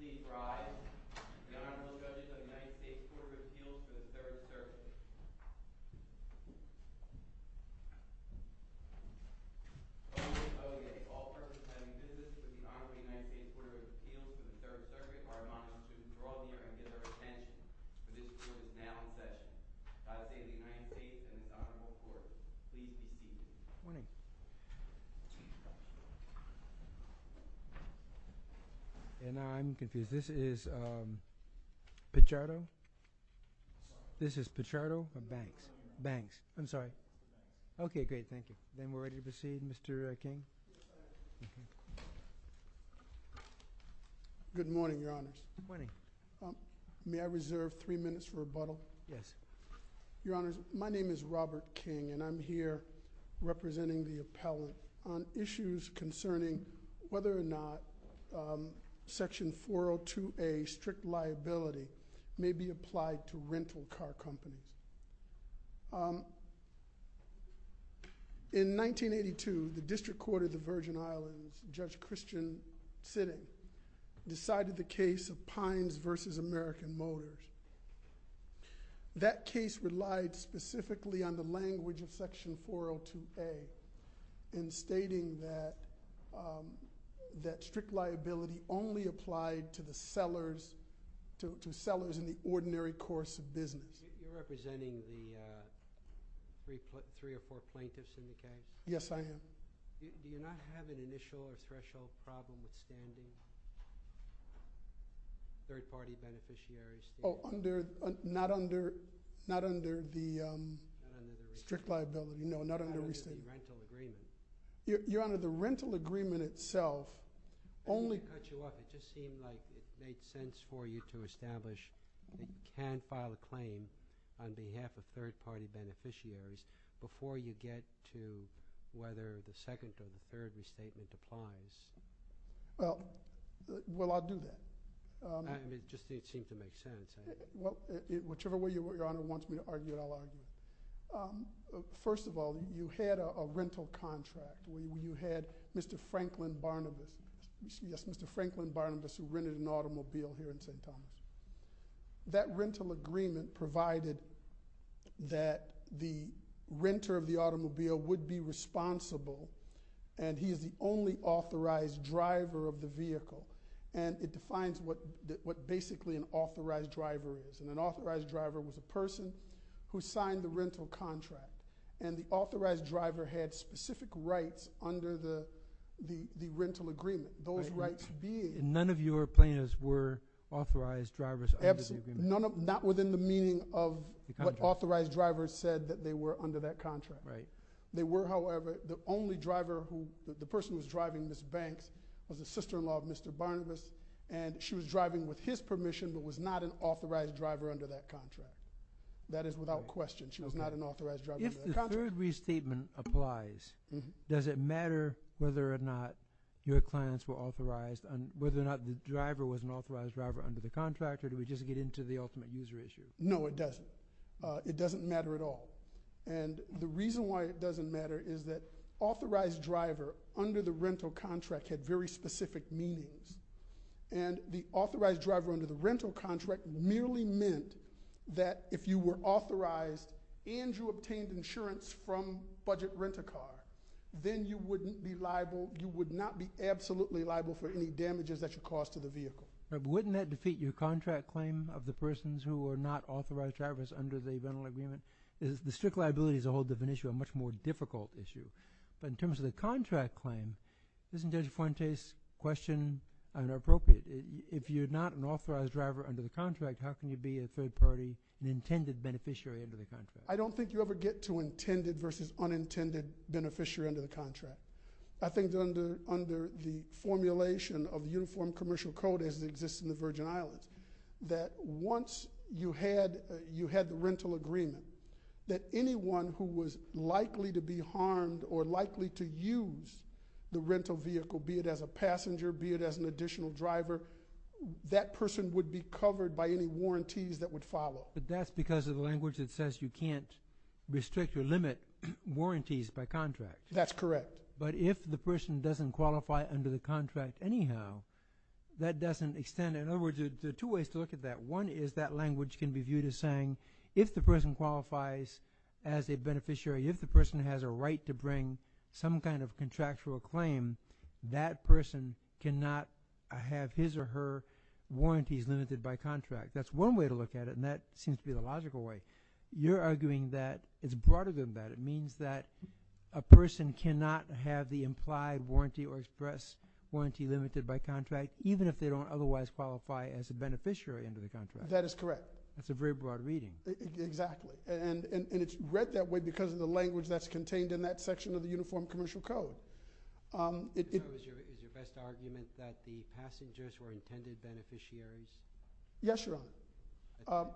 Please rise. The Honorable Judge of the United States Court of Appeals for the 3rd Circuit. The Honorable Judge of the United States Court of Appeals for the 3rd Circuit. The Honorable Judge of the United States Court of Appeals for the 3rd Circuit. The Honorable Judge of the United States Court of Appeals for the 3rd Circuit. Your Honor, my name is Robert King and I'm here representing the appellant on issues concerning whether or not Section 402A, Strict Liability, may be applied to rental car companies. In 1982, the District Court of the Virgin Islands, Judge Christian Sitting, decided the case of Pines v. American Motors. That case relied specifically on the language of Section 402A in stating that strict liability only applied to sellers in the ordinary course of business. You're representing the three or four plaintiffs in the case? Yes, I am. Do you not have an initial or threshold problem with standing third-party beneficiaries? Not under the strict liability, no. Not under the rental agreement? Your Honor, the rental agreement itself only- Well, I'll do that. It just didn't seem to make sense. Whichever way Your Honor wants me to argue it, I'll argue it. First of all, you had a rental contract where you had Mr. Franklin Barnabas. Yes, Mr. Franklin Barnabas who rented an automobile here in St. Thomas. That rental agreement provided that the renter of the automobile would be responsible and he is the only authorized driver of the vehicle. It defines what basically an authorized driver is. An authorized driver was a person who signed the rental contract. The authorized driver had specific rights under the rental agreement. None of your plaintiffs were authorized drivers under the agreement? Absolutely. Not within the meaning of what authorized drivers said that they were under that contract. They were, however, the only driver, the person who was driving Ms. Banks was the sister-in-law of Mr. Barnabas. She was driving with his permission but was not an authorized driver under that contract. That is without question. She was not an authorized driver under that contract. If the third restatement applies, does it matter whether or not your clients were authorized, whether or not the driver was an authorized driver under the contract or do we just get into the ultimate user issue? No, it doesn't. It doesn't matter at all. The reason why it doesn't matter is that authorized driver under the rental contract had very specific meanings. The authorized driver under the rental contract merely meant that if you were authorized and you obtained insurance from Budget Rent-A-Car, then you would not be absolutely liable for any damages that you caused to the vehicle. Wouldn't that defeat your contract claim of the persons who were not authorized drivers under the rental agreement? The strict liability is a whole different issue, a much more difficult issue. In terms of the contract claim, isn't Judge Fuentes' question inappropriate? If you're not an authorized driver under the contract, how can you be a third party, an intended beneficiary under the contract? I don't think you ever get to intended versus unintended beneficiary under the contract. I think under the formulation of the Uniform Commercial Code as it exists in the Virgin Islands, that once you had the rental agreement, that anyone who was likely to be harmed or likely to use the rental vehicle, be it as a passenger, be it as an additional driver, that person would be covered by any warranties that would follow. But that's because of the language that says you can't restrict or limit warranties by contract. That's correct. But if the person doesn't qualify under the contract anyhow, that doesn't extend. In other words, there are two ways to look at that. One is that language can be viewed as saying if the person qualifies as a beneficiary, if the person has a right to bring some kind of contractual claim, that person cannot have his or her warranties limited by contract. That's one way to look at it, and that seems to be the logical way. You're arguing that it's broader than that. It means that a person cannot have the implied warranty or express warranty limited by contract, even if they don't otherwise qualify as a beneficiary under the contract. That is correct. That's a very broad reading. Exactly. And it's read that way because of the language that's contained in that section of the Uniform Commercial Code. Is your best argument that the passengers were intended beneficiaries? Yes, Your Honor.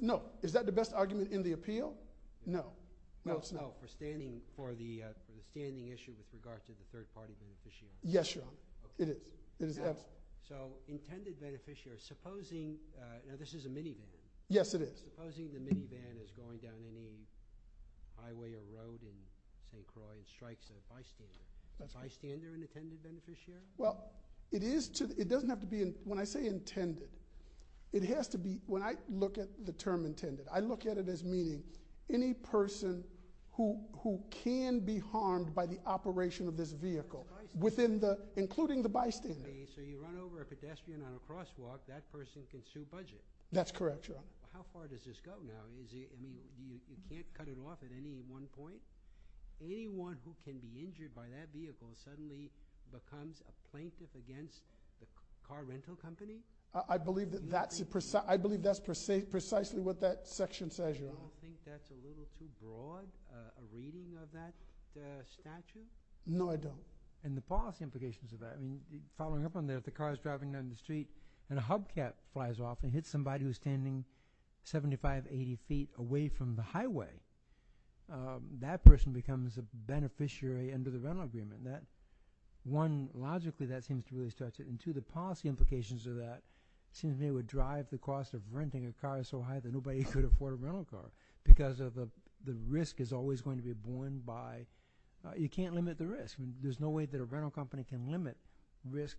No. Is that the best argument in the appeal? No. No, it's not. For the standing issue with regard to the third-party beneficiary? Yes, Your Honor. It is. So, intended beneficiary. Now, this is a minivan. Yes, it is. Supposing the minivan is going down any highway or road in St. Croix and strikes a bystander. Is a bystander an intended beneficiary? Well, it doesn't have to be. When I say intended, it has to be. When I look at the term intended, I look at it as meaning any person who can be harmed by the operation of this vehicle, including the bystander. So, you run over a pedestrian on a crosswalk. That person can sue budget. That's correct, Your Honor. How far does this go now? You can't cut it off at any one point? Anyone who can be injured by that vehicle suddenly becomes a plaintiff against the car rental company? I believe that's precisely what that section says, Your Honor. I don't think that's a little too broad a reading of that statute. No, I don't. And the policy implications of that. Following up on that, if the car is driving down the street and a hubcap flies off and hits somebody who is standing 75, 80 feet away from the highway, that person becomes a beneficiary under the rental agreement. One, logically that seems to really stretch it. And two, the policy implications of that seems to me it would drive the cost of renting a car so high that nobody could afford a rental car because the risk is always going to be borne by... You can't limit the risk. There's no way that a rental company can limit risk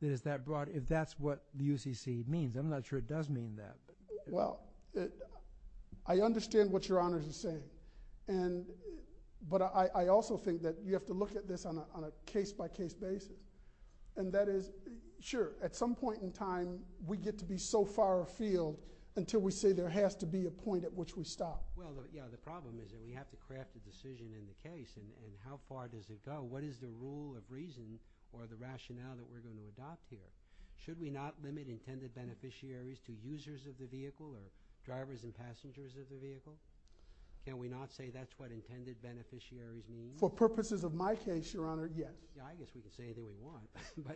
that is that broad if that's what the UCC means. I'm not sure it does mean that. Well, I understand what Your Honor is saying, but I also think that you have to look at this on a case-by-case basis. And that is, sure, at some point in time, we get to be so far afield until we say there has to be a point at which we stop. Well, yeah, the problem is that we have to craft a decision in the case, and how far does it go? What is the rule of reason or the rationale that we're going to adopt here? Should we not limit intended beneficiaries to users of the vehicle or drivers and passengers of the vehicle? Can we not say that's what intended beneficiaries mean? For purposes of my case, Your Honor, yes. Yeah, I guess we can say anything we want. We've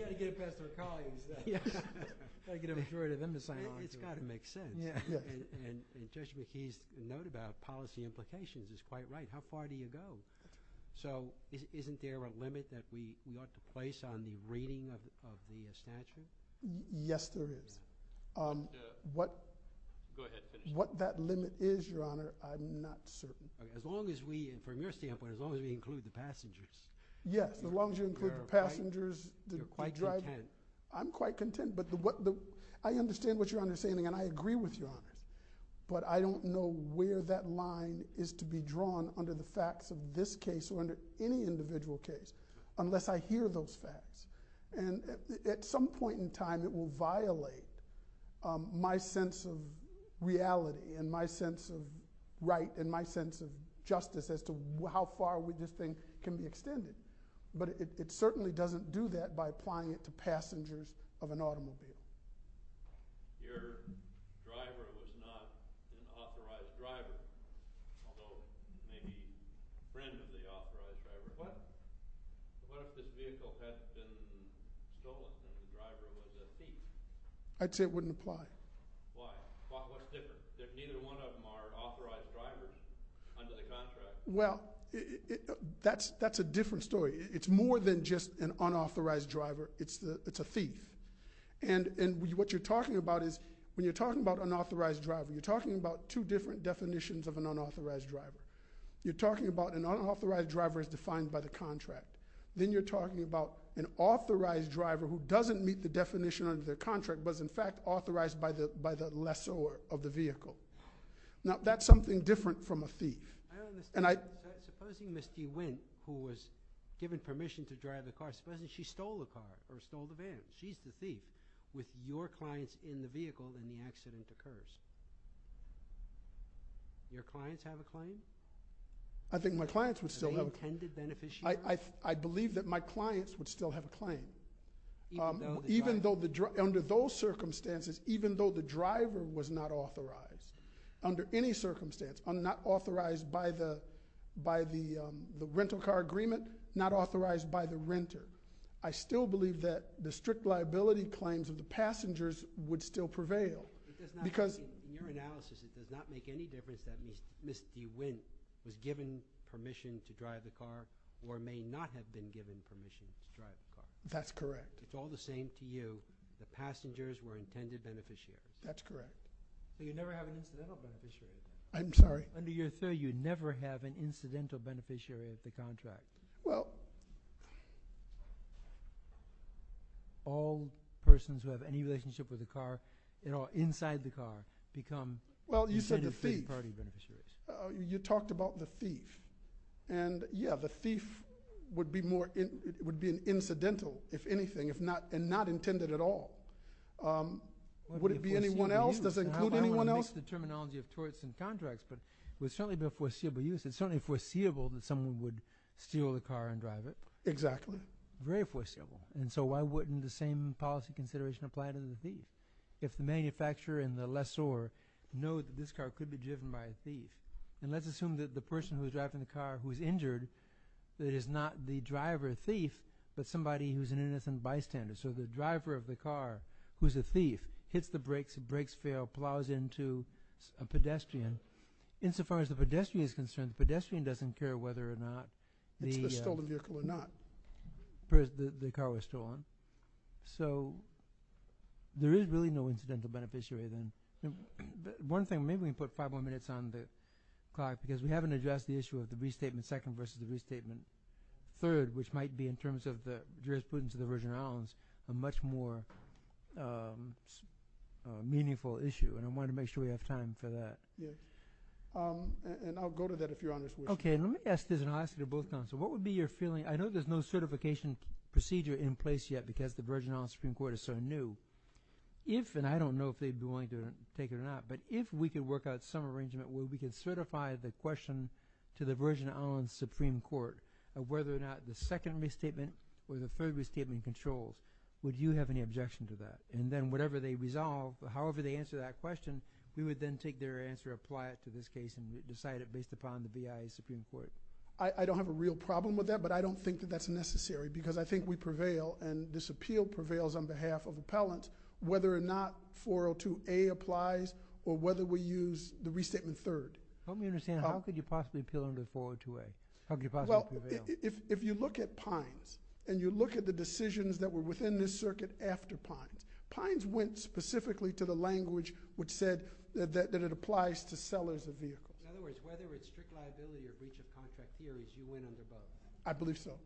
got to get it past our colleagues, though. We've got to get a majority of them to sign on to it. It's got to make sense. And Judge McKee's note about policy implications is quite right. How far do you go? So isn't there a limit that we ought to place on the reading of the statute? Yes, there is. Go ahead. What that limit is, Your Honor, I'm not certain. As long as we, from your standpoint, as long as we include the passengers. Yes, as long as you include the passengers, the driver. You're quite content. I'm quite content. But I understand what Your Honor is saying, and I agree with Your Honor. But I don't know where that line is to be drawn under the facts of this case or under any individual case unless I hear those facts. And at some point in time, it will violate my sense of reality and my sense of right and my sense of justice as to how far this thing can be extended. But it certainly doesn't do that by applying it to passengers of an automobile. Your driver was not an authorized driver, although he may be a friend of the authorized driver. What if this vehicle had been stolen and the driver was a thief? I'd say it wouldn't apply. Why? What's different? Neither one of them are authorized drivers under the contract. Well, that's a different story. It's more than just an unauthorized driver. It's a thief. And what you're talking about is when you're talking about unauthorized driver, you're talking about two different definitions of an unauthorized driver. You're talking about an unauthorized driver as defined by the contract. Then you're talking about an authorized driver who doesn't meet the definition under the contract but is, in fact, authorized by the lessor of the vehicle. Now, that's something different from a thief. I don't understand. Supposing Ms. DeWitt, who was given permission to drive the car, supposing she stole the car or stole the van, she's the thief, with your clients in the vehicle and the accident occurs. Your clients have a claim? I think my clients would still have a claim. Are they intended beneficiaries? I believe that my clients would still have a claim. Under those circumstances, even though the driver was not authorized, under any circumstance, not authorized by the rental car agreement, not authorized by the renter, I still believe that the strict liability claims of the passengers would still prevail. In your analysis, it does not make any difference that Ms. DeWitt was given permission to drive the car or may not have been given permission to drive the car. That's correct. It's all the same to you. The passengers were intended beneficiaries. That's correct. So you never have an incidental beneficiary? I'm sorry? Under your theory, you never have an incidental beneficiary of the contract? Well— All persons who have any relationship with the car, inside the car, become— Well, you said the thief. You talked about the thief. Yeah, the thief would be an incidental, if anything, and not intended at all. Would it be anyone else? Does it include anyone else? Well, it's the terminology of torts and contracts, but it would certainly be a foreseeable use. It's certainly foreseeable that someone would steal the car and drive it. Exactly. Very foreseeable. And so why wouldn't the same policy consideration apply to the thief? If the manufacturer and the lessor know that this car could be driven by a thief. And let's assume that the person who's driving the car who's injured, that it is not the driver thief, but somebody who's an innocent bystander. So the driver of the car who's a thief hits the brakes, brakes fail, plows into a pedestrian. Insofar as the pedestrian is concerned, the pedestrian doesn't care whether or not— It's the stolen vehicle or not. The car was stolen. So there is really no incidental beneficiary then. One thing, maybe we can put five more minutes on the clock because we haven't addressed the issue of the restatement second versus the restatement third, which might be in terms of the jurisprudence of the Virgin Islands, a much more meaningful issue. And I wanted to make sure we have time for that. Yeah. And I'll go to that if you're honest with me. Okay. Let me ask this, and I'll ask it to both counsel. What would be your feeling— I know there's no certification procedure in place yet because the Virgin Islands Supreme Court is so new. If, and I don't know if they'd be willing to take it or not, but if we could work out some arrangement where we could certify the question to the Virgin Islands Supreme Court of whether or not the second restatement or the third restatement controls, would you have any objection to that? And then whatever they resolve, however they answer that question, we would then take their answer, apply it to this case, and decide it based upon the V.I.A. Supreme Court. I don't have a real problem with that, but I don't think that that's necessary because I think we prevail, and this appeal prevails on behalf of appellants, whether or not 402A applies or whether we use the restatement third. Help me understand. How could you possibly appeal under 402A? Well, if you look at Pines and you look at the decisions that were within this circuit after Pines, Pines went specifically to the language which said that it applies to sellers of vehicles. In other words, whether it's strict liability or breach of contract theories, you went under both. I believe so.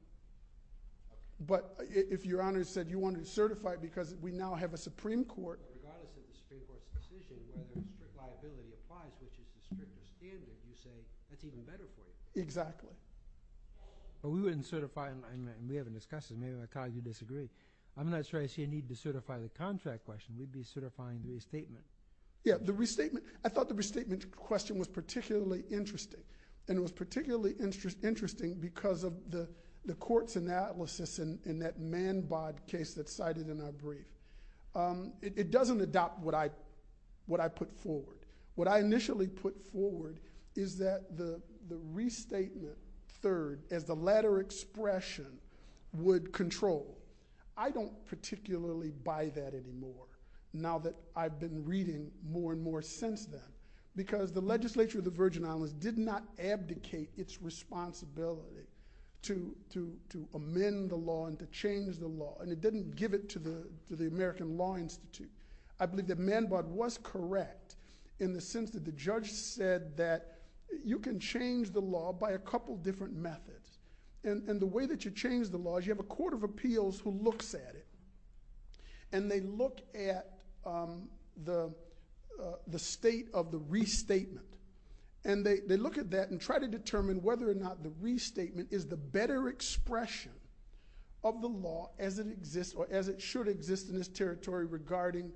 But if Your Honor said you wanted to certify because we now have a Supreme Court— Regardless of the Supreme Court's decision, whether it's strict liability or fines, which is the strictest standard, you say, that's even better for you. Exactly. We wouldn't certify, and we haven't discussed this. Maybe our colleagues would disagree. I'm not sure I see a need to certify the contract question. We'd be certifying the restatement. Yeah, the restatement. I thought the restatement question was particularly interesting, and it was particularly interesting because of the court's analysis in that Mann-Bodd case that's cited in our brief. It doesn't adopt what I put forward. What I initially put forward is that the restatement, third, as the latter expression, would control. I don't particularly buy that anymore now that I've been reading more and more since then because the legislature of the Virgin Islands did not abdicate its responsibility to amend the law and to change the law, and it didn't give it to the American Law Institute. I believe that Mann-Bodd was correct in the sense that the judge said that you can change the law by a couple different methods, and the way that you change the law is you have a court of appeals who looks at it, and they look at the state of the restatement, and they look at that and try to determine whether or not the restatement is the better expression of the law as it exists in this territory regarding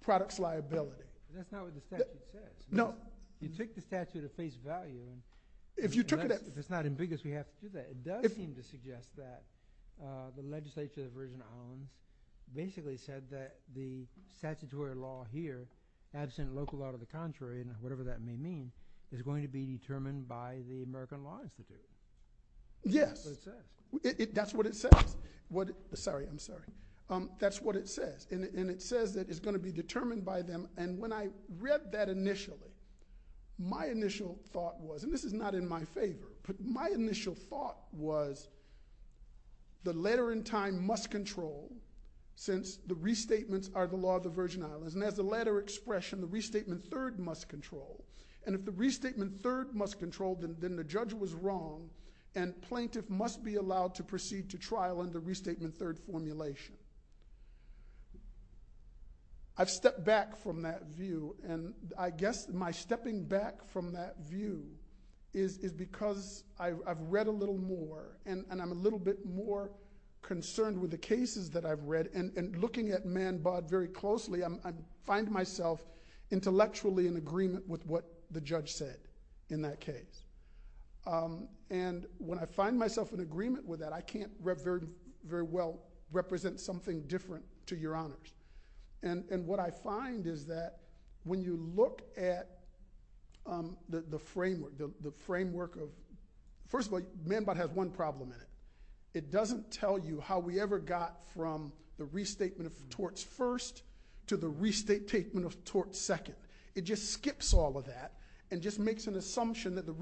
products liability. That's not what the statute says. No. You took the statute at face value, and if it's not ambiguous, we have to do that. It does seem to suggest that the legislature of the Virgin Islands basically said that the statutory law here, absent local law to the contrary and whatever that may mean, is going to be determined by the American Law Institute. Yes. That's what it says. Sorry, I'm sorry. That's what it says, and it says that it's going to be determined by them. When I read that initially, my initial thought was, and this is not in my favor, but my initial thought was the letter in time must control since the restatements are the law of the Virgin Islands, and as the letter expression, the restatement third must control. If the restatement third must control, then the judge was wrong, and plaintiff must be allowed to proceed to trial under restatement third formulation. I've stepped back from that view, and I guess my stepping back from that view is because I've read a little more, and I'm a little bit more concerned with the cases that I've read, and looking at Mann-Bodd very closely, I find myself intellectually in agreement with what the judge said in that case. When I find myself in agreement with that, I can't very well represent something different to your honors. What I find is that when you look at the framework of, first of all, Mann-Bodd has one problem in it. It doesn't tell you how we ever got from the restatement of torts first to the restatement of torts second. It just skips all of that, and just makes an assumption that the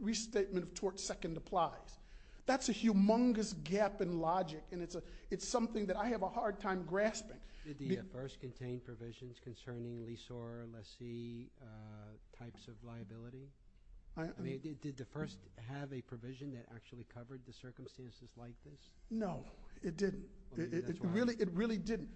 restatement of torts second applies. That's a humongous gap in logic, and it's something that I have a hard time grasping. Did the first contain provisions concerning lease or lessee types of liability? Did the first have a provision that actually covered the circumstances like this? No, it didn't. It really didn't.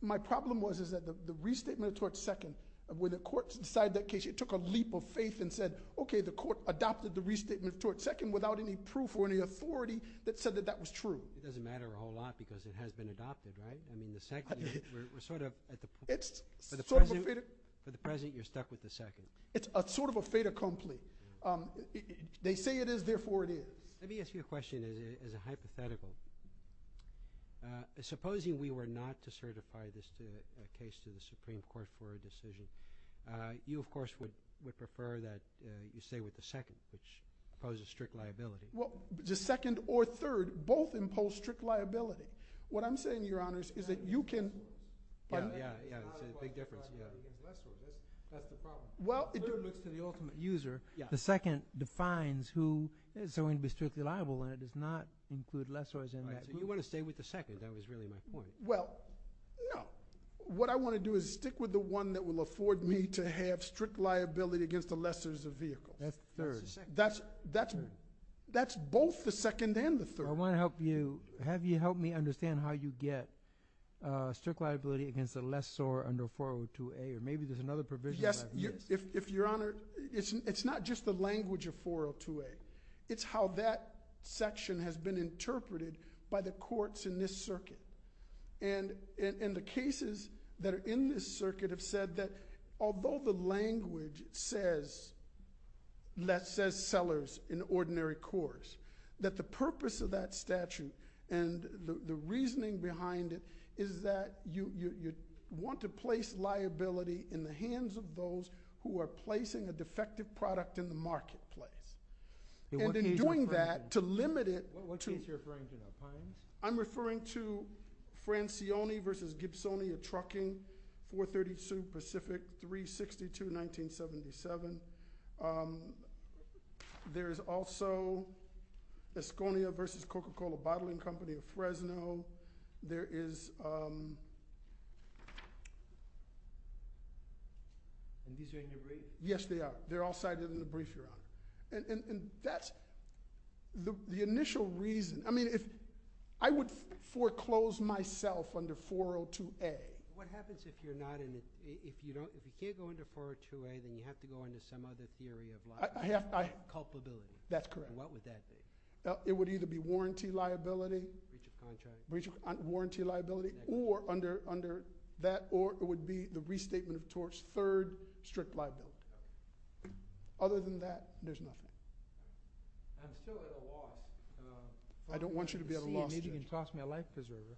My problem was that the restatement of torts second, when the court decided that case, it took a leap of faith and said, okay, the court adopted the restatement of torts second without any proof or any authority that said that that was true. It doesn't matter a whole lot because it has been adopted, right? In the second, we're sort of at the point. For the president, you're stuck with the second. It's sort of a fait accompli. They say it is, therefore it is. Let me ask you a question as a hypothetical. Supposing we were not to certify this case to the Supreme Court for a decision, you, of course, would prefer that you stay with the second, which imposes strict liability. Well, the second or third both impose strict liability. What I'm saying, Your Honors, is that you can – Yeah, yeah, yeah, it's a big difference. That's the problem. Well, it depends on the ultimate user. The second defines who is going to be strictly liable, and it does not include lessors in that group. All right, so you want to stay with the second. That was really my point. Well, no. What I want to do is stick with the one that will afford me to have strict liability against the lessors of vehicles. That's the third. That's both the second and the third. I want to help you. Have you help me understand how you get strict liability against a lessor under 402A, or maybe there's another provision. Yes, if Your Honor, it's not just the language of 402A. It's how that section has been interpreted by the courts in this circuit. The cases that are in this circuit have said that although the language says sellers in ordinary course, that the purpose of that statute and the reasoning behind it is that you want to place liability in the hands of those who are placing a defective product in the marketplace. And in doing that, to limit it to... What case are you referring to, Your Honor? I'm referring to Francione v. Gibsonia Trucking, 432 Pacific, 362, 1977. There is also Esconia v. Coca-Cola Bottling Company of Fresno. There is... And these are in your brief? Yes, they are. They're all cited in the brief, Your Honor. And that's the initial reason. I mean, I would foreclose myself under 402A. What happens if you can't go under 402A, then you have to go under some other theory of liability? I have... Culpability. That's correct. What would that be? It would either be warranty liability... Breach of contract. Warranty liability, or under that, or it would be the restatement of torts, third strict liability. Other than that, there's nothing. I'm still at a loss, Your Honor. I don't want you to be at a loss, Judge. It's costing me a life preserver.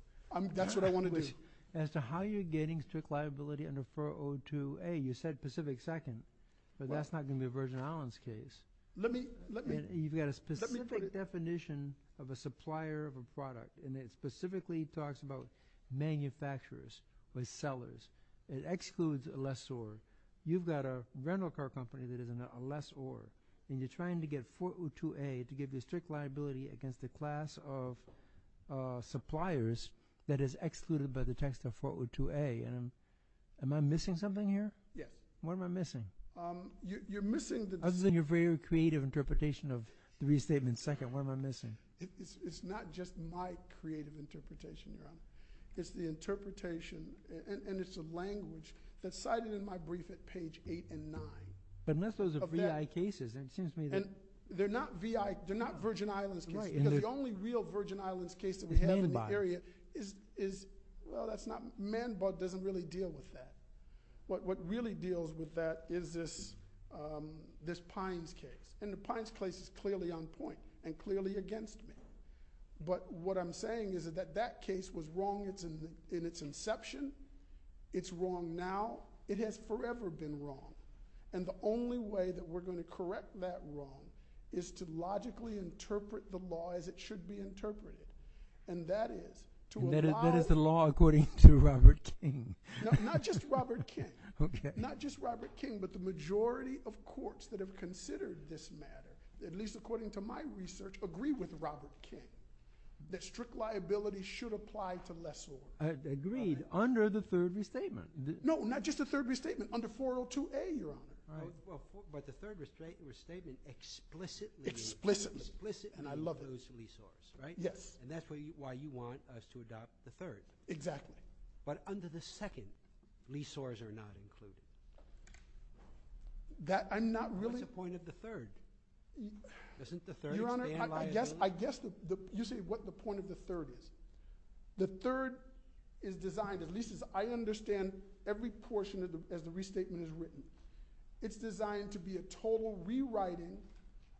That's what I want to do. As to how you're gaining strict liability under 402A, you said Pacific second, but that's not going to be a Virgin Islands case. Let me... You've got a specific definition of a supplier of a product, and it specifically talks about manufacturers or sellers. It excludes a lessor. You've got a rental car company that is a lessor, and you're trying to get 402A to give you strict liability against a class of suppliers that is excluded by the text of 402A. Am I missing something here? Yes. What am I missing? You're missing... You're missing your very creative interpretation of the restatement, second. What am I missing? It's not just my creative interpretation, Your Honor. It's the interpretation, and it's the language, that's cited in my brief at page 8 and 9. But unless those are VI cases, then it seems to me that... They're not VI. They're not Virgin Islands cases. Because the only real Virgin Islands case that we have in the area... Is Manba. Well, that's not... Manba doesn't really deal with that. What really deals with that is this Pines case. And the Pines case is clearly on point and clearly against me. But what I'm saying is that that case was wrong in its inception. It's wrong now. It has forever been wrong. And the only way that we're going to correct that wrong is to logically interpret the law as it should be interpreted. And that is to allow... That is the law according to Robert King. No, not just Robert King. Okay. Not just Robert King, but the majority of courts that have considered this matter, at least according to my research, agree with Robert King that strict liability should apply to lessors. Agreed, under the third restatement. No, not just the third restatement. Under 402A, Your Honor. But the third restatement explicitly... Explicitly. Explicit, and I love those resorts, right? Yes. And that's why you want us to adopt the third. Exactly. But under the second, lessors are not included. I'm not really... What's the point of the third? Isn't the third... Your Honor, I guess you're saying what the point of the third is. The third is designed, at least as I understand every portion as the restatement is written, it's designed to be a total rewriting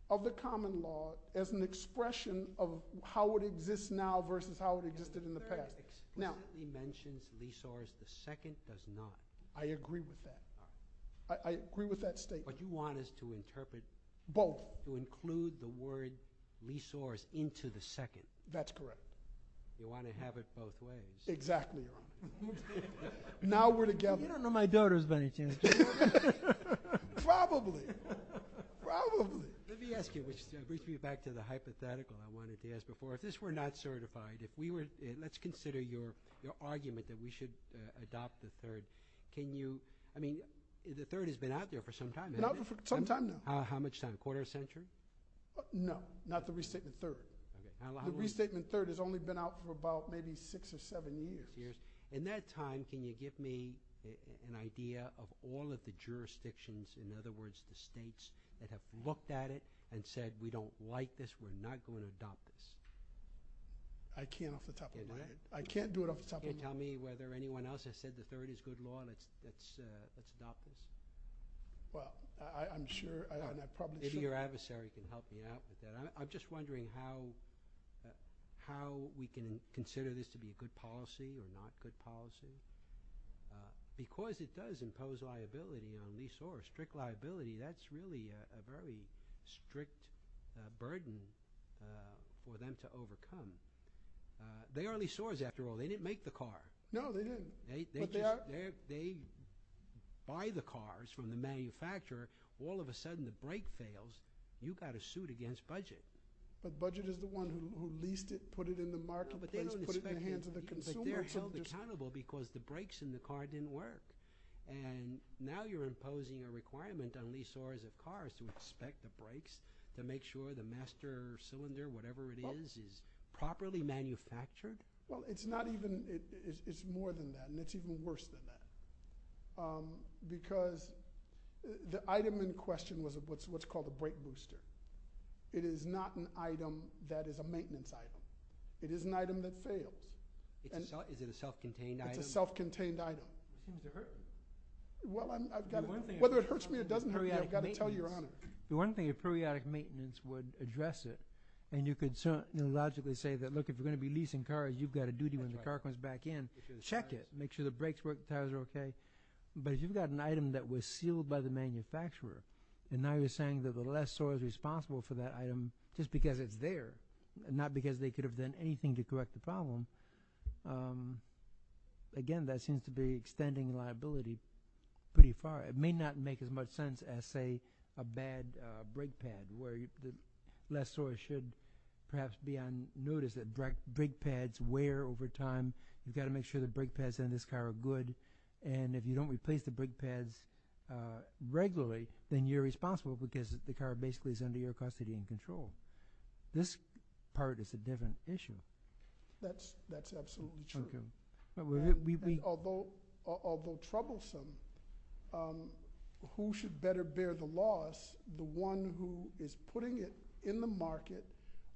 of the common law as an expression of how it exists now versus how it existed in the past. The third explicitly mentions lessors. The second does not. I agree with that. I agree with that statement. What you want is to interpret... Both. To include the word lessors into the second. That's correct. You want to have it both ways. Exactly, Your Honor. Now we're together. You don't know my daughters by any chance. Probably. Probably. Let me ask you, which brings me back to the hypothetical I wanted to ask before. If this were not certified, if we were... Let's consider your argument that we should adopt the third. Can you... I mean, the third has been out there for some time, hasn't it? It's been out there for some time now. How much time? A quarter of a century? No, not the restatement third. The restatement third has only been out for about maybe six or seven years. In that time, can you give me an idea of all of the jurisdictions, in other words, the states that have looked at it and said, we don't like this, we're not going to adopt this? I can't off the top of my head. I can't do it off the top of my head. Can you tell me whether anyone else has said the third is good law and let's adopt this? Well, I'm sure and I probably should. Maybe your adversary can help you out with that. I'm just wondering how we can consider this to be a good policy or not good policy. Because it does impose liability on lease or strict liability, that's really a very strict burden for them to overcome. They are leasers after all. They didn't make the car. No, they didn't. They buy the cars from the manufacturer. All of a sudden, the brake fails. You've got to suit against budget. But budget is the one who leased it, put it in the market, put it in the hands of the consumer. But they're held accountable because the brakes in the car didn't work. And now you're imposing a requirement on leasers of cars to inspect the brakes to make sure the master cylinder, whatever it is, is properly manufactured? Well, it's more than that and it's even worse than that. Because the item in question was what's called a brake booster. It is not an item that is a maintenance item. It is an item that fails. Is it a self-contained item? It's a self-contained item. Well, whether it hurts me or doesn't hurt me, I've got to tell you you're on it. The one thing a periodic maintenance would address it, and you could logically say that, look, if you're going to be leasing cars, you've got a duty when the car comes back in to check it, make sure the brakes work, the tires are okay. But if you've got an item that was sealed by the manufacturer and now you're saying that the less so is responsible for that item just because it's there and not because they could have done anything to correct the problem, again, that seems to be extending liability pretty far. It may not make as much sense as, say, a bad brake pad where the less so should perhaps be on notice that brake pads wear over time. You've got to make sure the brake pads in this car are good. And if you don't replace the brake pads regularly, then you're responsible because the car basically is under your custody and control. This part is a different issue. That's absolutely true. Although troublesome, who should better bear the loss? The one who is putting it in the market,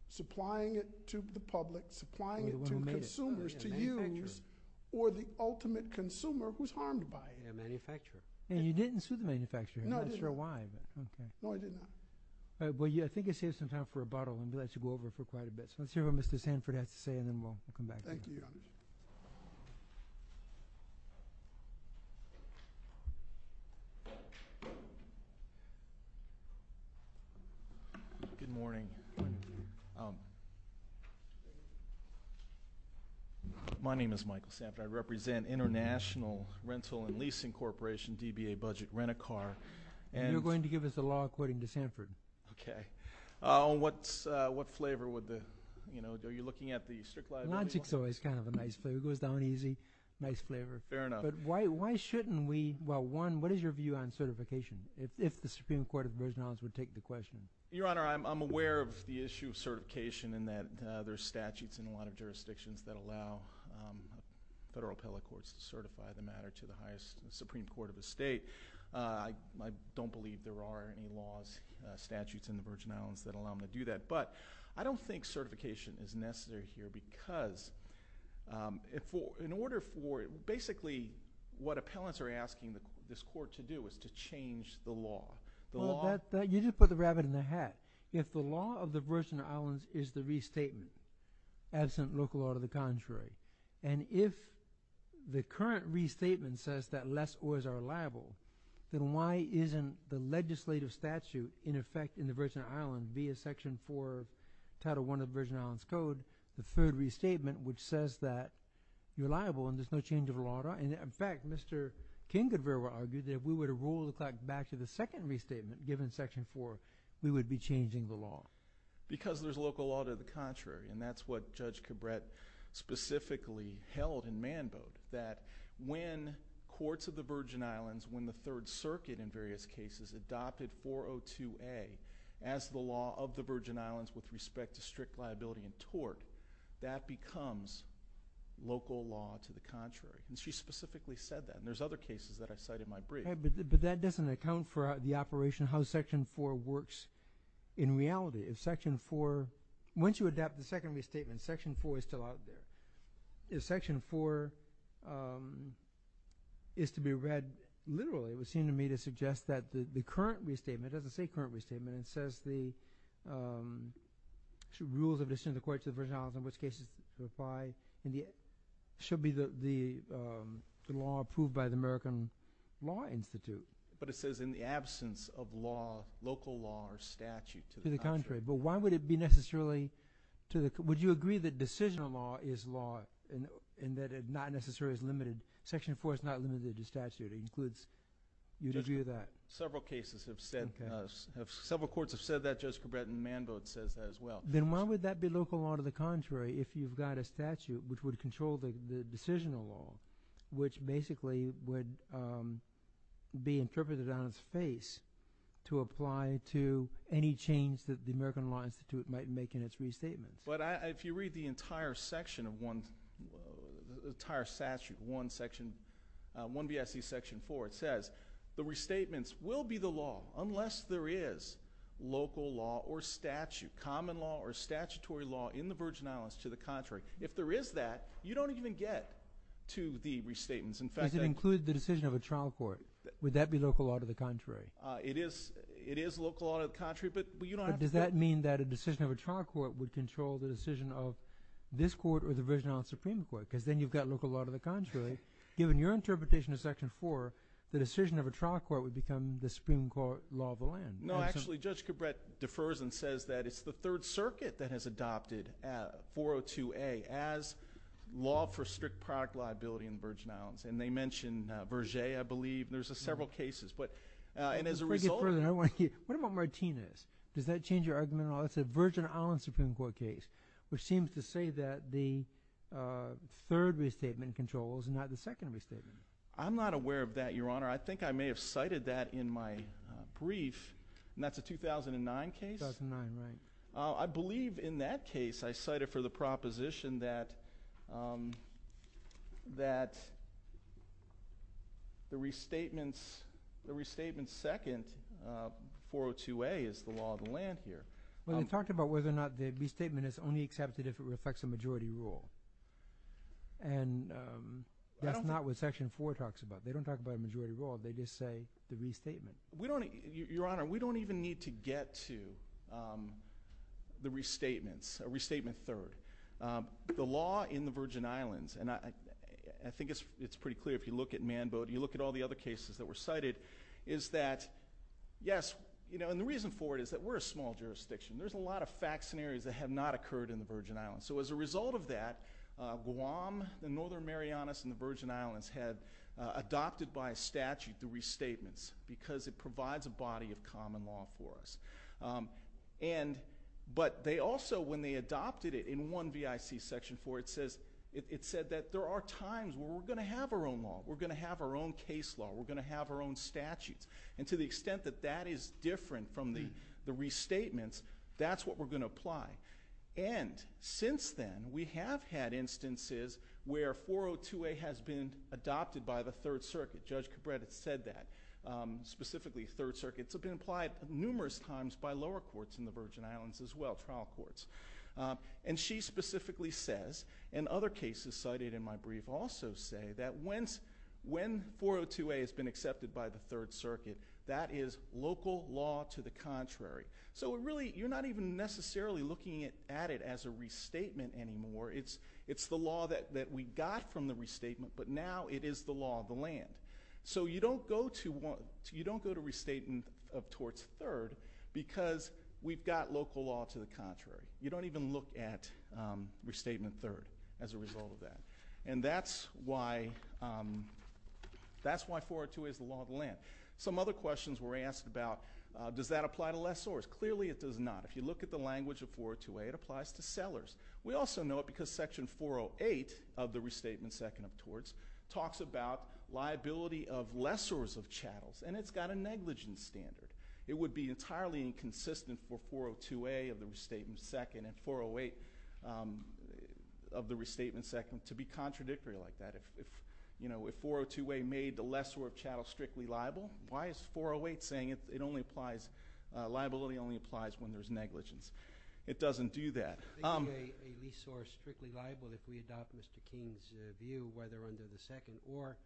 supplying it to the public, supplying it to consumers to use, or the ultimate consumer who's harmed by it? The manufacturer. You didn't sue the manufacturer. No, I didn't. I'm not sure why. No, I did not. I think it saves some time for rebuttal. I'm glad you go over it for quite a bit. Let's hear what Mr. Sanford has to say, and then we'll come back to you. Thank you. Good morning. My name is Michael Sanford. I represent International Rental and Leasing Corporation, DBA Budget Rent-A-Car. And you're going to give us the law according to Sanford. Okay. What flavor would the – are you looking at the strict liability? Logic's always kind of a nice flavor. It goes down easy. Nice flavor. Fair enough. But why shouldn't we – well, one, what is your view on certification? If the Supreme Court of Virginia would take the question. Your Honor, I'm aware of the issue of certification and that there are statutes in a lot of jurisdictions that allow federal telecourts to certify the matter to the highest Supreme Court of the state. I don't believe there are any laws, statutes in the Virgin Islands that allow them to do that. But I don't think certification is necessary here because in order for – basically what appellants are asking this court to do is to change the law. You just put the rabbit in the hat. If the law of the Virgin Islands is the restatement, absent local law to the contrary, and if the current restatement says that less oars are liable, then why isn't the legislative statute in effect in the Virgin Islands via Section 4, Title I of the Virgin Islands Code, the third restatement, which says that you're liable and there's no change of the law. In fact, Mr. King could very well argue that if we were to roll the clock back to the second restatement given Section 4, we would be changing the law. Because there's local law to the contrary, and that's what Judge Cabret specifically held in Manboat, that when courts of the Virgin Islands, when the Third Circuit in various cases adopted 402A as the law of the Virgin Islands with respect to strict liability and tort, that becomes local law to the contrary. And she specifically said that. And there's other cases that I cite in my brief. But that doesn't account for the operation of how Section 4 works in reality. If Section 4 – once you adapt the second restatement, Section 4 is still out there. If Section 4 is to be read literally, it would seem to me to suggest that the current restatement – it doesn't say current restatement, it says the rules of decision of the courts of the Virgin Islands, in which case it should be the law approved by the American Law Institute. But it says in the absence of local law or statute to the contrary. But why would it be necessarily – would you agree that decisional law is law and that it not necessarily is limited – Section 4 is not limited to statute? It includes – you'd agree to that? Several cases have said – several courts have said that. Judge Cabret in Manboat says that as well. Then why would that be local law to the contrary if you've got a statute which would control the decisional law, which basically would be interpreted on its face to apply to any change that the American Law Institute might make in its restatements? But if you read the entire section of one – the entire statute, one section, 1 B.I.C. Section 4, it says the restatements will be the law unless there is local law or statute, common law or statutory law in the Virgin Islands to the contrary. If there is that, you don't even get to the restatements. Does it include the decision of a trial court? Would that be local law to the contrary? It is local law to the contrary, but you don't have to – But does that mean that a decision of a trial court would control the decision of this court or the Virgin Islands Supreme Court because then you've got local law to the contrary. Given your interpretation of Section 4, the decision of a trial court would become the Supreme Court law of the land. No, actually, Judge Cabret defers and says that it's the Third Circuit that has adopted 402A as law for strict product liability in the Virgin Islands, and they mention Berger, I believe. There's several cases, but as a result – What about Martinez? Does that change your argument at all? It's a Virgin Islands Supreme Court case, which seems to say that the third restatement controls and not the second restatement. I'm not aware of that, Your Honor. I think I may have cited that in my brief, and that's a 2009 case? 2009, right. I believe in that case I cited for the proposition that the restatement second, 402A, is the law of the land here. Well, they talked about whether or not the restatement is only accepted if it reflects a majority rule, and that's not what Section 4 talks about. They don't talk about a majority rule. They just say the restatement. Your Honor, we don't even need to get to the restatements, a restatement third. The law in the Virgin Islands, and I think it's pretty clear if you look at Manboat and you look at all the other cases that were cited, is that, yes, and the reason for it is that we're a small jurisdiction. There's a lot of facts and areas that have not occurred in the Virgin Islands. So as a result of that, Guam, the Northern Marianas, and the Virgin Islands had adopted by statute the restatements because it provides a body of common law for us. But they also, when they adopted it in 1BIC Section 4, it said that there are times where we're going to have our own law, we're going to have our own case law, we're going to have our own statutes, and to the extent that that is different from the restatements, that's what we're going to apply. And since then, we have had instances where 402A has been adopted by the Third Circuit. Judge Cabret has said that, specifically Third Circuit. It's been applied numerous times by lower courts in the Virgin Islands as well, trial courts. And she specifically says, and other cases cited in my brief also say, that when 402A has been accepted by the Third Circuit, that is local law to the contrary. So really, you're not even necessarily looking at it as a restatement anymore. It's the law that we got from the restatement, but now it is the law of the land. So you don't go to restatement of torts third because we've got local law to the contrary. You don't even look at restatement third as a result of that. And that's why 402A is the law of the land. Some other questions were asked about, does that apply to lessors? Clearly, it does not. If you look at the language of 402A, it applies to sellers. We also know it because Section 408 of the Restatement Second of Torts talks about liability of lessors of chattels, and it's got a negligence standard. It would be entirely inconsistent for 402A of the Restatement Second and 408 of the Restatement Second to be contradictory like that. If 402A made the lessor of chattel strictly liable, why is 408 saying liability only applies when there's negligence? It doesn't do that. It would be a resource strictly liable if we adopt Mr. King's view whether under the second or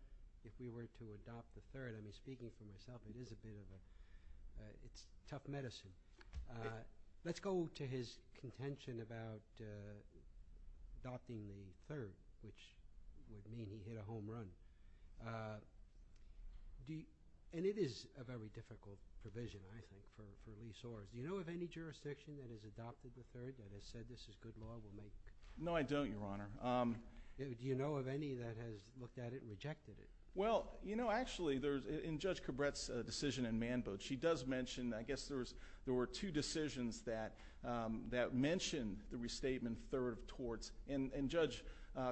if we were to adopt the third. I mean, speaking for myself, it is a bit of a – it's tough medicine. Let's go to his contention about adopting the third, which would mean he hit a home run. And it is a very difficult provision, I think, for lessors. Do you know of any jurisdiction that has adopted the third that has said this is good law? No, I don't, Your Honor. Do you know of any that has looked at it and rejected it? Well, you know, actually, in Judge Cabret's decision in Manboat, she does mention – I guess there were two decisions that mentioned the Restatement Third of Torts. And Judge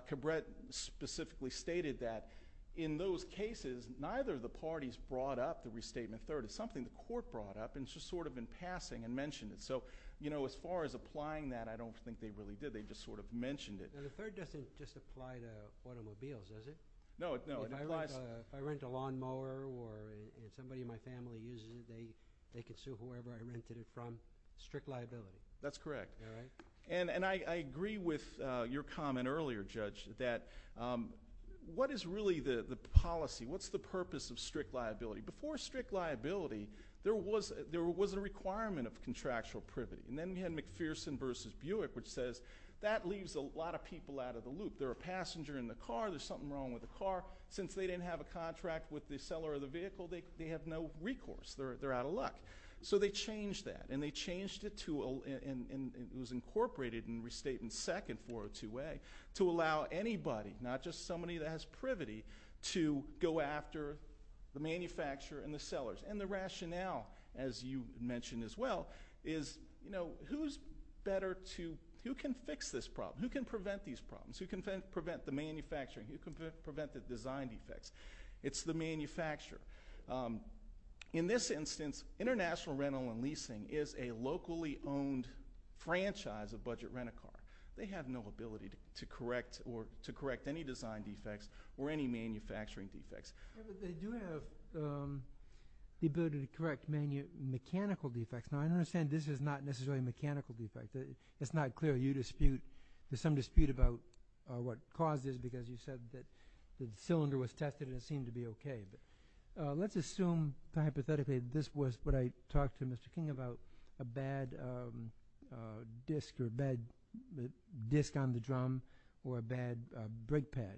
Cabret specifically stated that in those cases, neither of the parties brought up the Restatement Third. It's something the court brought up, and it's just sort of in passing and mentioned it. So, you know, as far as applying that, I don't think they really did. They just sort of mentioned it. Now, the third doesn't just apply to automobiles, does it? No, no. If I rent a lawnmower or somebody in my family uses it, they can sue whoever I rented it from. Strict liability. That's correct. All right? And I agree with your comment earlier, Judge, that what is really the policy? What's the purpose of strict liability? Before strict liability, there was a requirement of contractual privity. And then we had McPherson v. Buick, which says that leaves a lot of people out of the loop. They're a passenger in the car. There's something wrong with the car. Since they didn't have a contract with the seller of the vehicle, they have no recourse. They're out of luck. So they changed that, and they changed it to – and it was incorporated in Restatement Second, 402A, to allow anybody, not just somebody that has privity, to go after the manufacturer and the sellers. And the rationale, as you mentioned as well, is, you know, who's better to – who can fix this problem? Who can prevent these problems? Who can prevent the manufacturing? Who can prevent the design defects? It's the manufacturer. In this instance, international rental and leasing is a locally owned franchise of budget rent-a-car. They have no ability to correct any design defects or any manufacturing defects. Yeah, but they do have the ability to correct mechanical defects. Now, I understand this is not necessarily a mechanical defect. It's not clear. You dispute – there's some dispute about what caused this because you said that the cylinder was tested, and it seemed to be okay. But let's assume, hypothetically, this was what I talked to Mr. King about, a bad disc or a bad disc on the drum or a bad brake pad.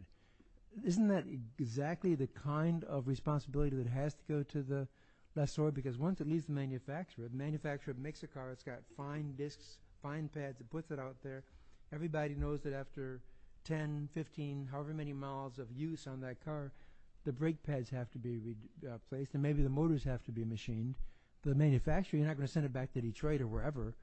Isn't that exactly the kind of responsibility that has to go to the lessor? Because once it leaves the manufacturer, the manufacturer makes a car. It's got fine discs, fine pads. It puts it out there. Everybody knows that after 10, 15, however many miles of use on that car, the brake pads have to be replaced, and maybe the motors have to be machined. The manufacturer, you're not going to send it back to Detroit or wherever.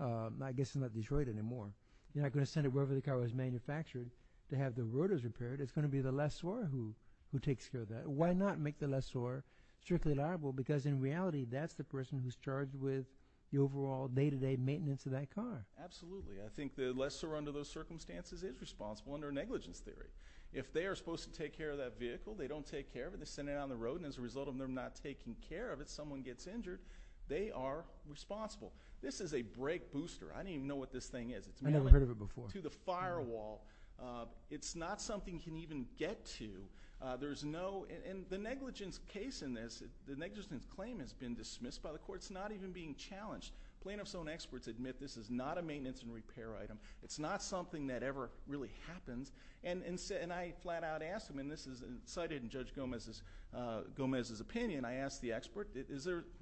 I guess it's not Detroit anymore. You're not going to send it wherever the car was manufactured to have the rotors repaired. It's going to be the lessor who takes care of that. Why not make the lessor strictly liable because, in reality, that's the person who's charged with the overall day-to-day maintenance of that car. Absolutely. I think the lessor under those circumstances is responsible under negligence theory. If they are supposed to take care of that vehicle, they don't take care of it. They send it on the road, and as a result of them not taking care of it, someone gets injured. They are responsible. This is a brake booster. I don't even know what this thing is. I've never heard of it before. It's made to the firewall. It's not something you can even get to. The negligence claim has been dismissed by the court. It's not even being challenged. Plaintiff's own experts admit this is not a maintenance and repair item. It's not something that ever really happens. I flat out asked them, and this is cited in Judge Gomez's opinion. I asked the expert,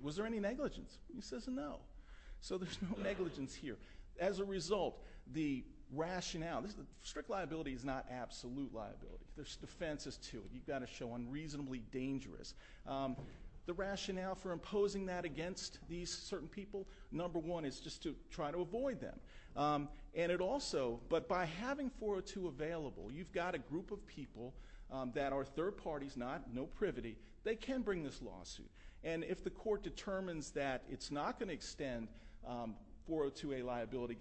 was there any negligence? He says no. There's no negligence here. As a result, the rationale, strict liability is not absolute liability. There's defenses to it. You've got to show unreasonably dangerous. The rationale for imposing that against these certain people, number one is just to try to avoid them. By having 402 available, you've got a group of people that are third parties, no privity, they can bring this lawsuit. If the court determines that it's not going to extend 402A liability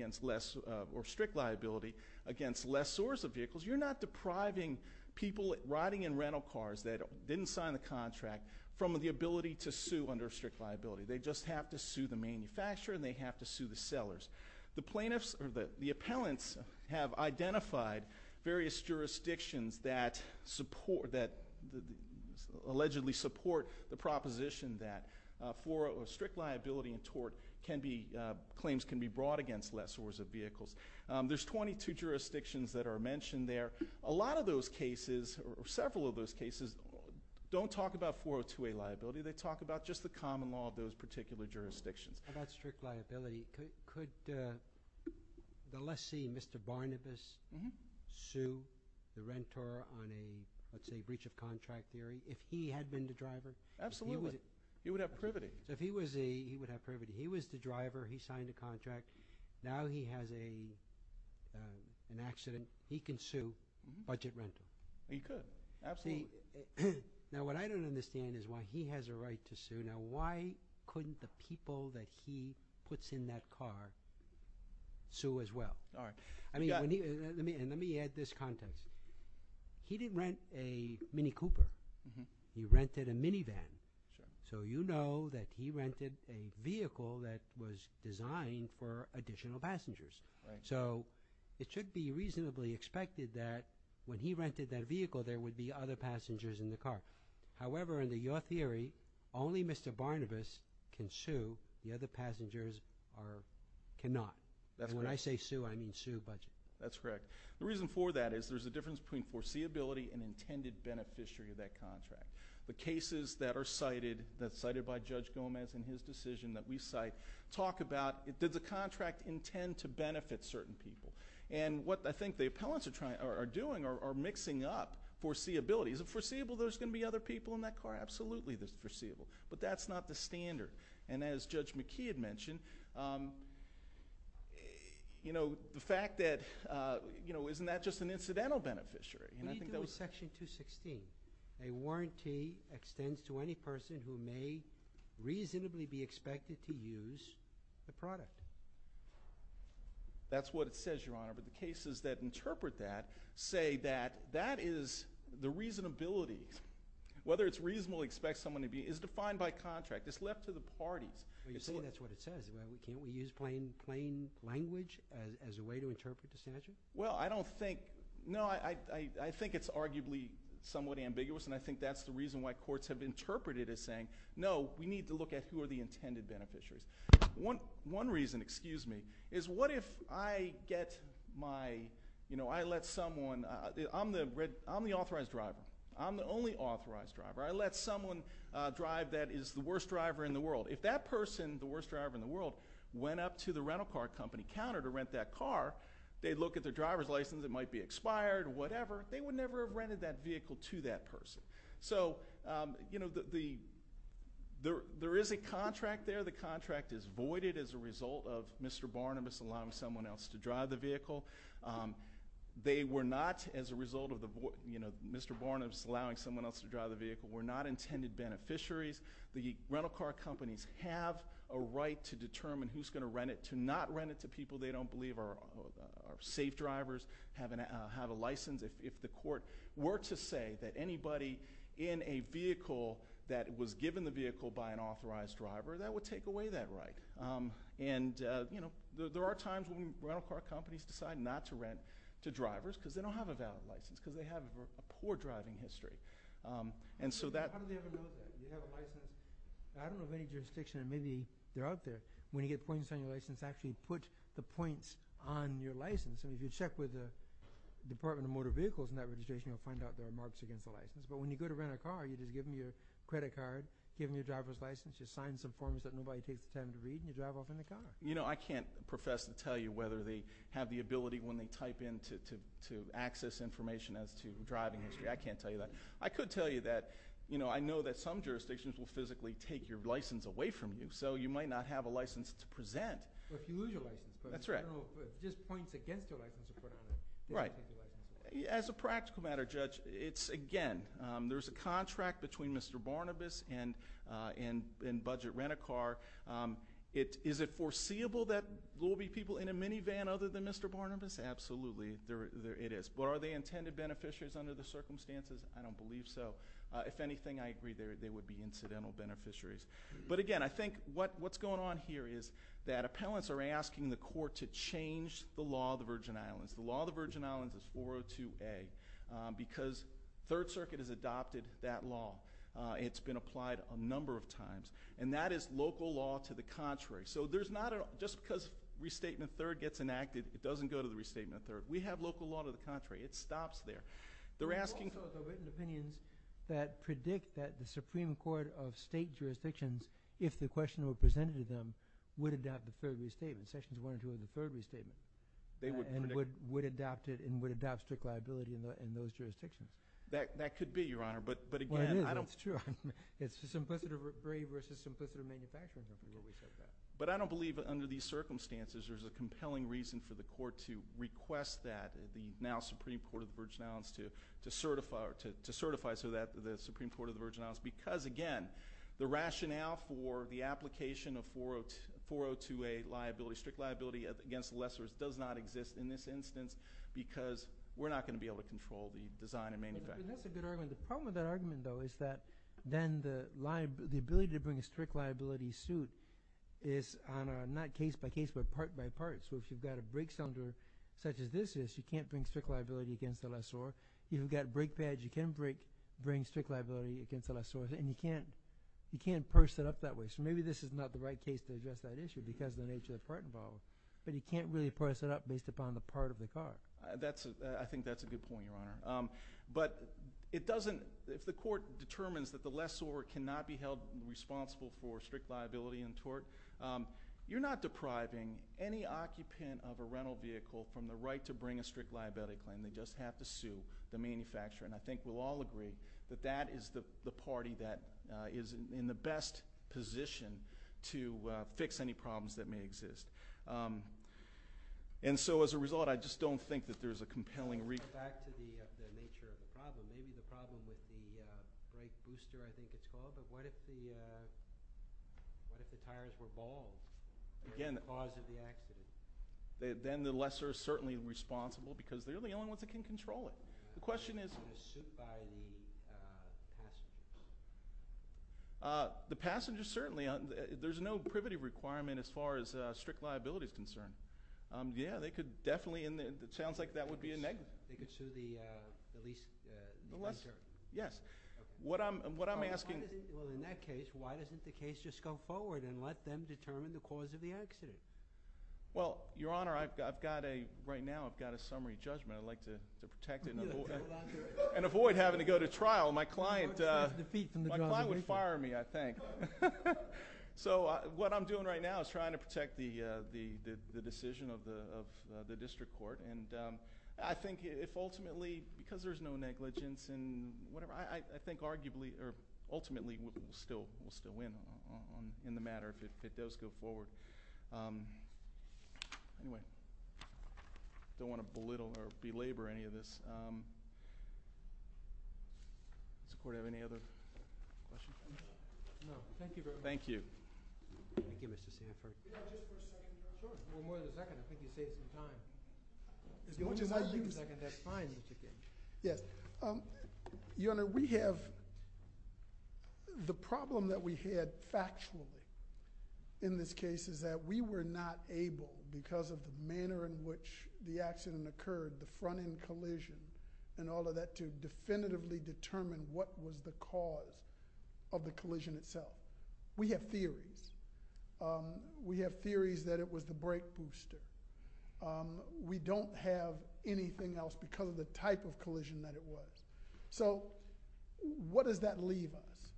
or strict liability against less source of vehicles, you're not depriving people riding in rental cars that didn't sign the contract from the ability to sue under strict liability. They just have to sue the manufacturer and they have to sue the sellers. The plaintiffs or the appellants have identified various jurisdictions that allegedly support the proposition that strict liability and tort claims can be brought against less source of vehicles. There's 22 jurisdictions that are mentioned there. A lot of those cases or several of those cases don't talk about 402A liability. They talk about just the common law of those particular jurisdictions. How about strict liability? Could the lessee, Mr. Barnabas, sue the renter on a breach of contract hearing if he had been the driver? Absolutely. He would have privity. He would have privity. He was the driver. He signed the contract. Now he has an accident. He can sue budget rental. He could. Absolutely. Now what I don't understand is why he has a right to sue. Now why couldn't the people that he puts in that car sue as well? All right. Let me add this context. He didn't rent a Mini Cooper. He rented a minivan. You know that he rented a vehicle that was designed for additional passengers. It should be reasonably expected that when he rented that vehicle, there would be other passengers in the car. However, under your theory, only Mr. Barnabas can sue. The other passengers cannot. When I say sue, I mean sue budget. That's correct. The reason for that is there's a difference between foreseeability and intended beneficiary of that contract. The cases that are cited, that's cited by Judge Gomez in his decision that we cite, talk about did the contract intend to benefit certain people. What I think the appellants are doing are mixing up foreseeability. Is it foreseeable there's going to be other people in that car? Absolutely it's foreseeable. But that's not the standard. As Judge McKee had mentioned, the fact that isn't that just an incidental beneficiary? We do a Section 216. A warranty extends to any person who may reasonably be expected to use the product. That's what it says, Your Honor. But the cases that interpret that say that that is the reasonability, whether it's reasonable to expect someone to be, is defined by contract. It's left to the parties. You're saying that's what it says. Can't we use plain language as a way to interpret the statute? Well, I don't think – no, I think it's arguably somewhat ambiguous, and I think that's the reason why courts have interpreted it as saying, no, we need to look at who are the intended beneficiaries. One reason, excuse me, is what if I get my – I let someone – I'm the authorized driver. I'm the only authorized driver. I let someone drive that is the worst driver in the world. If that person, the worst driver in the world, went up to the rental car company counter to rent that car, they'd look at their driver's license, it might be expired, whatever. They would never have rented that vehicle to that person. So, you know, there is a contract there. The contract is voided as a result of Mr. Barnum is allowing someone else to drive the vehicle. They were not, as a result of Mr. Barnum's allowing someone else to drive the vehicle, were not intended beneficiaries. The rental car companies have a right to determine who's going to rent it. To not rent it to people they don't believe are safe drivers, have a license. If the court were to say that anybody in a vehicle that was given the vehicle by an authorized driver, that would take away that right. And, you know, there are times when rental car companies decide not to rent to drivers because they don't have a valid license because they have a poor driving history. And so that – How do they ever know that? Do they have a license? I don't know of any jurisdiction that maybe they're out there. When you get points on your license, actually put the points on your license. And if you check with the Department of Motor Vehicles in that registration, you'll find out there are marks against the license. But when you go to rent a car, you just give them your credit card, give them your driver's license, you sign some forms that nobody takes the time to read, and you drive off in the car. You know, I can't profess to tell you whether they have the ability when they type in to access information as to driving history. I can't tell you that. I could tell you that, you know, I know that some jurisdictions will physically take your license away from you. So you might not have a license to present. Well, if you lose your license. That's right. Just points against your license are put on there. Right. As a practical matter, Judge, it's, again, there's a contract between Mr. Barnabas and Budget Rent-A-Car. Is it foreseeable that there will be people in a minivan other than Mr. Barnabas? Absolutely, it is. But are they intended beneficiaries under the circumstances? I don't believe so. If anything, I agree they would be incidental beneficiaries. But, again, I think what's going on here is that appellants are asking the court to change the law of the Virgin Islands. The law of the Virgin Islands is 402A because Third Circuit has adopted that law. It's been applied a number of times. And that is local law to the contrary. So there's not a – just because Restatement Third gets enacted, it doesn't go to the Restatement Third. We have local law to the contrary. It stops there. There are also written opinions that predict that the Supreme Court of State jurisdictions, if the question were presented to them, would adopt the Third Restatement, Sections 1 and 2 of the Third Restatement, and would adopt strict liability in those jurisdictions. That could be, Your Honor. But, again, I don't – Well, it is. It's true. It's just implicit or brave versus implicit or manufacturing. But I don't believe under these circumstances there's a compelling reason for the court to request that the now Supreme Court of the Virgin Islands to certify so that the Supreme Court of the Virgin Islands – because, again, the rationale for the application of 402A liability, strict liability against the lessors, does not exist in this instance because we're not going to be able to control the design and manufacture. That's a good argument. The problem with that argument, though, is that then the liability – the ability to bring a strict liability suit is on a – not case-by-case but part-by-part. So if you've got a brake cylinder such as this is, you can't bring strict liability against the lessor. If you've got brake pads, you can bring strict liability against the lessor. And you can't purse it up that way. So maybe this is not the right case to address that issue because of the nature of the part involved. But you can't really purse it up based upon the part of the car. I think that's a good point, Your Honor. But it doesn't – if the court determines that the lessor cannot be held responsible for strict liability and tort, you're not depriving any occupant of a rental vehicle from the right to bring a strict liability claim. They just have to sue the manufacturer. And I think we'll all agree that that is the party that is in the best position to fix any problems that may exist. And so as a result, I just don't think that there's a compelling – Let's go back to the nature of the problem. Maybe the problem with the brake booster, I think it's called. But what if the tires were bald? Again, the cause of the accident. Then the lessor is certainly responsible because they're the only ones that can control it. The question is – Will they be sued by the passenger? The passenger, certainly. There's no privity requirement as far as strict liability is concerned. Yeah, they could definitely – it sounds like that would be a negative. They could sue the lease- The lessor, yes. What I'm asking – Well, in that case, why doesn't the case just go forward and let them determine the cause of the accident? Well, Your Honor, right now I've got a summary judgment. I'd like to protect it and avoid having to go to trial. My client would fire me, I think. What I'm doing right now is trying to protect the decision of the district court. I think if ultimately – because there's no negligence and whatever, I think ultimately we'll still win in the matter if it does go forward. Anyway, I don't want to belittle or belabor any of this. Does the Court have any other questions? No. Thank you very much. Thank you. Thank you, Mr. Sanford. Just for a second. Sure. One more than a second. I think you saved some time. As long as I think it's fine, Mr. King. Yes. Your Honor, we have – the problem that we had factually in this case is that we were not able, because of the manner in which the accident occurred, the front-end collision and all of that, to definitively determine what was the cause of the collision itself. We have theories. We have theories that it was the brake booster. We don't have anything else because of the type of collision that it was. What does that leave us?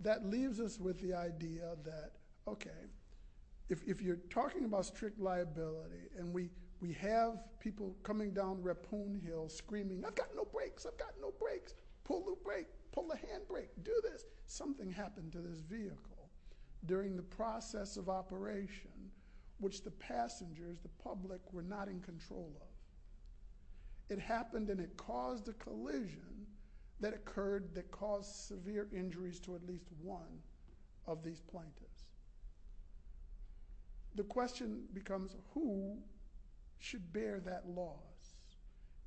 That leaves us with the idea that, okay, if you're talking about strict liability and we have people coming down Rapune Hill screaming, I've got no brakes. I've got no brakes. Pull the brake. Pull the handbrake. Do this. Something happened to this vehicle during the process of operation which the passengers, the public, were not in control of. It happened and it caused a collision that occurred that caused severe injuries to at least one of these plaintiffs. The question becomes who should bear that loss?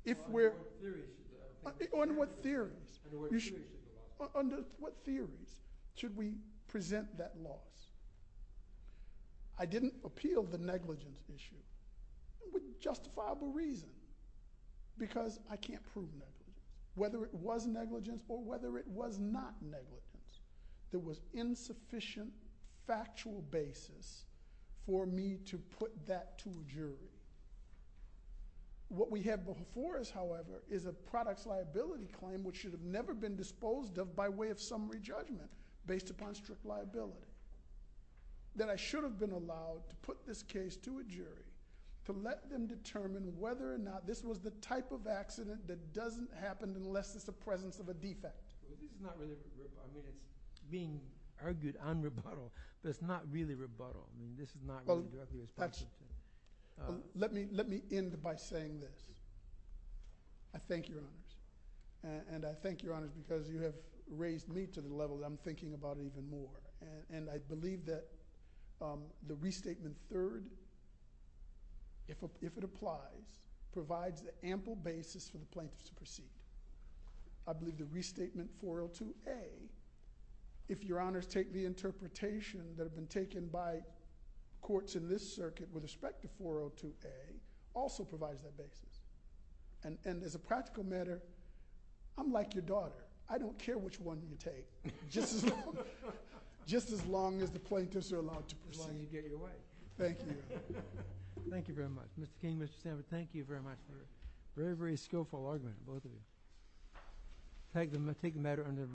Under what theories should we present that loss? I didn't appeal the negligence issue with justifiable reason because I can't prove negligence. Whether it was negligence or whether it was not negligence, there was insufficient factual basis for me to put that to a jury. What we have before us, however, is a products liability claim which should have never been disposed of by way of summary judgment based upon strict liability. I should have been allowed to put this case to a jury to let them determine whether or not this was the type of accident that doesn't happen unless it's the presence of a defect. It's being argued on rebuttal, but it's not really rebuttal. Let me end by saying this. I thank Your Honors. I thank Your Honors because you have raised me to the level that I'm thinking about it even more. I believe that the Restatement 3rd, if it applies, provides the ample basis for the plaintiffs to proceed. I believe the Restatement 402A, if Your Honors take the interpretation that have been taken by courts in this circuit with respect to 402A, also provides that basis. As a practical matter, I'm like your daughter. I don't care which one you take, just as long as the plaintiffs are allowed to proceed. As long as you get your way. Thank you. Thank you very much, Mr. King and Mr. Stanford. Thank you very much for a very, very skillful argument, both of you. I take the matter under review.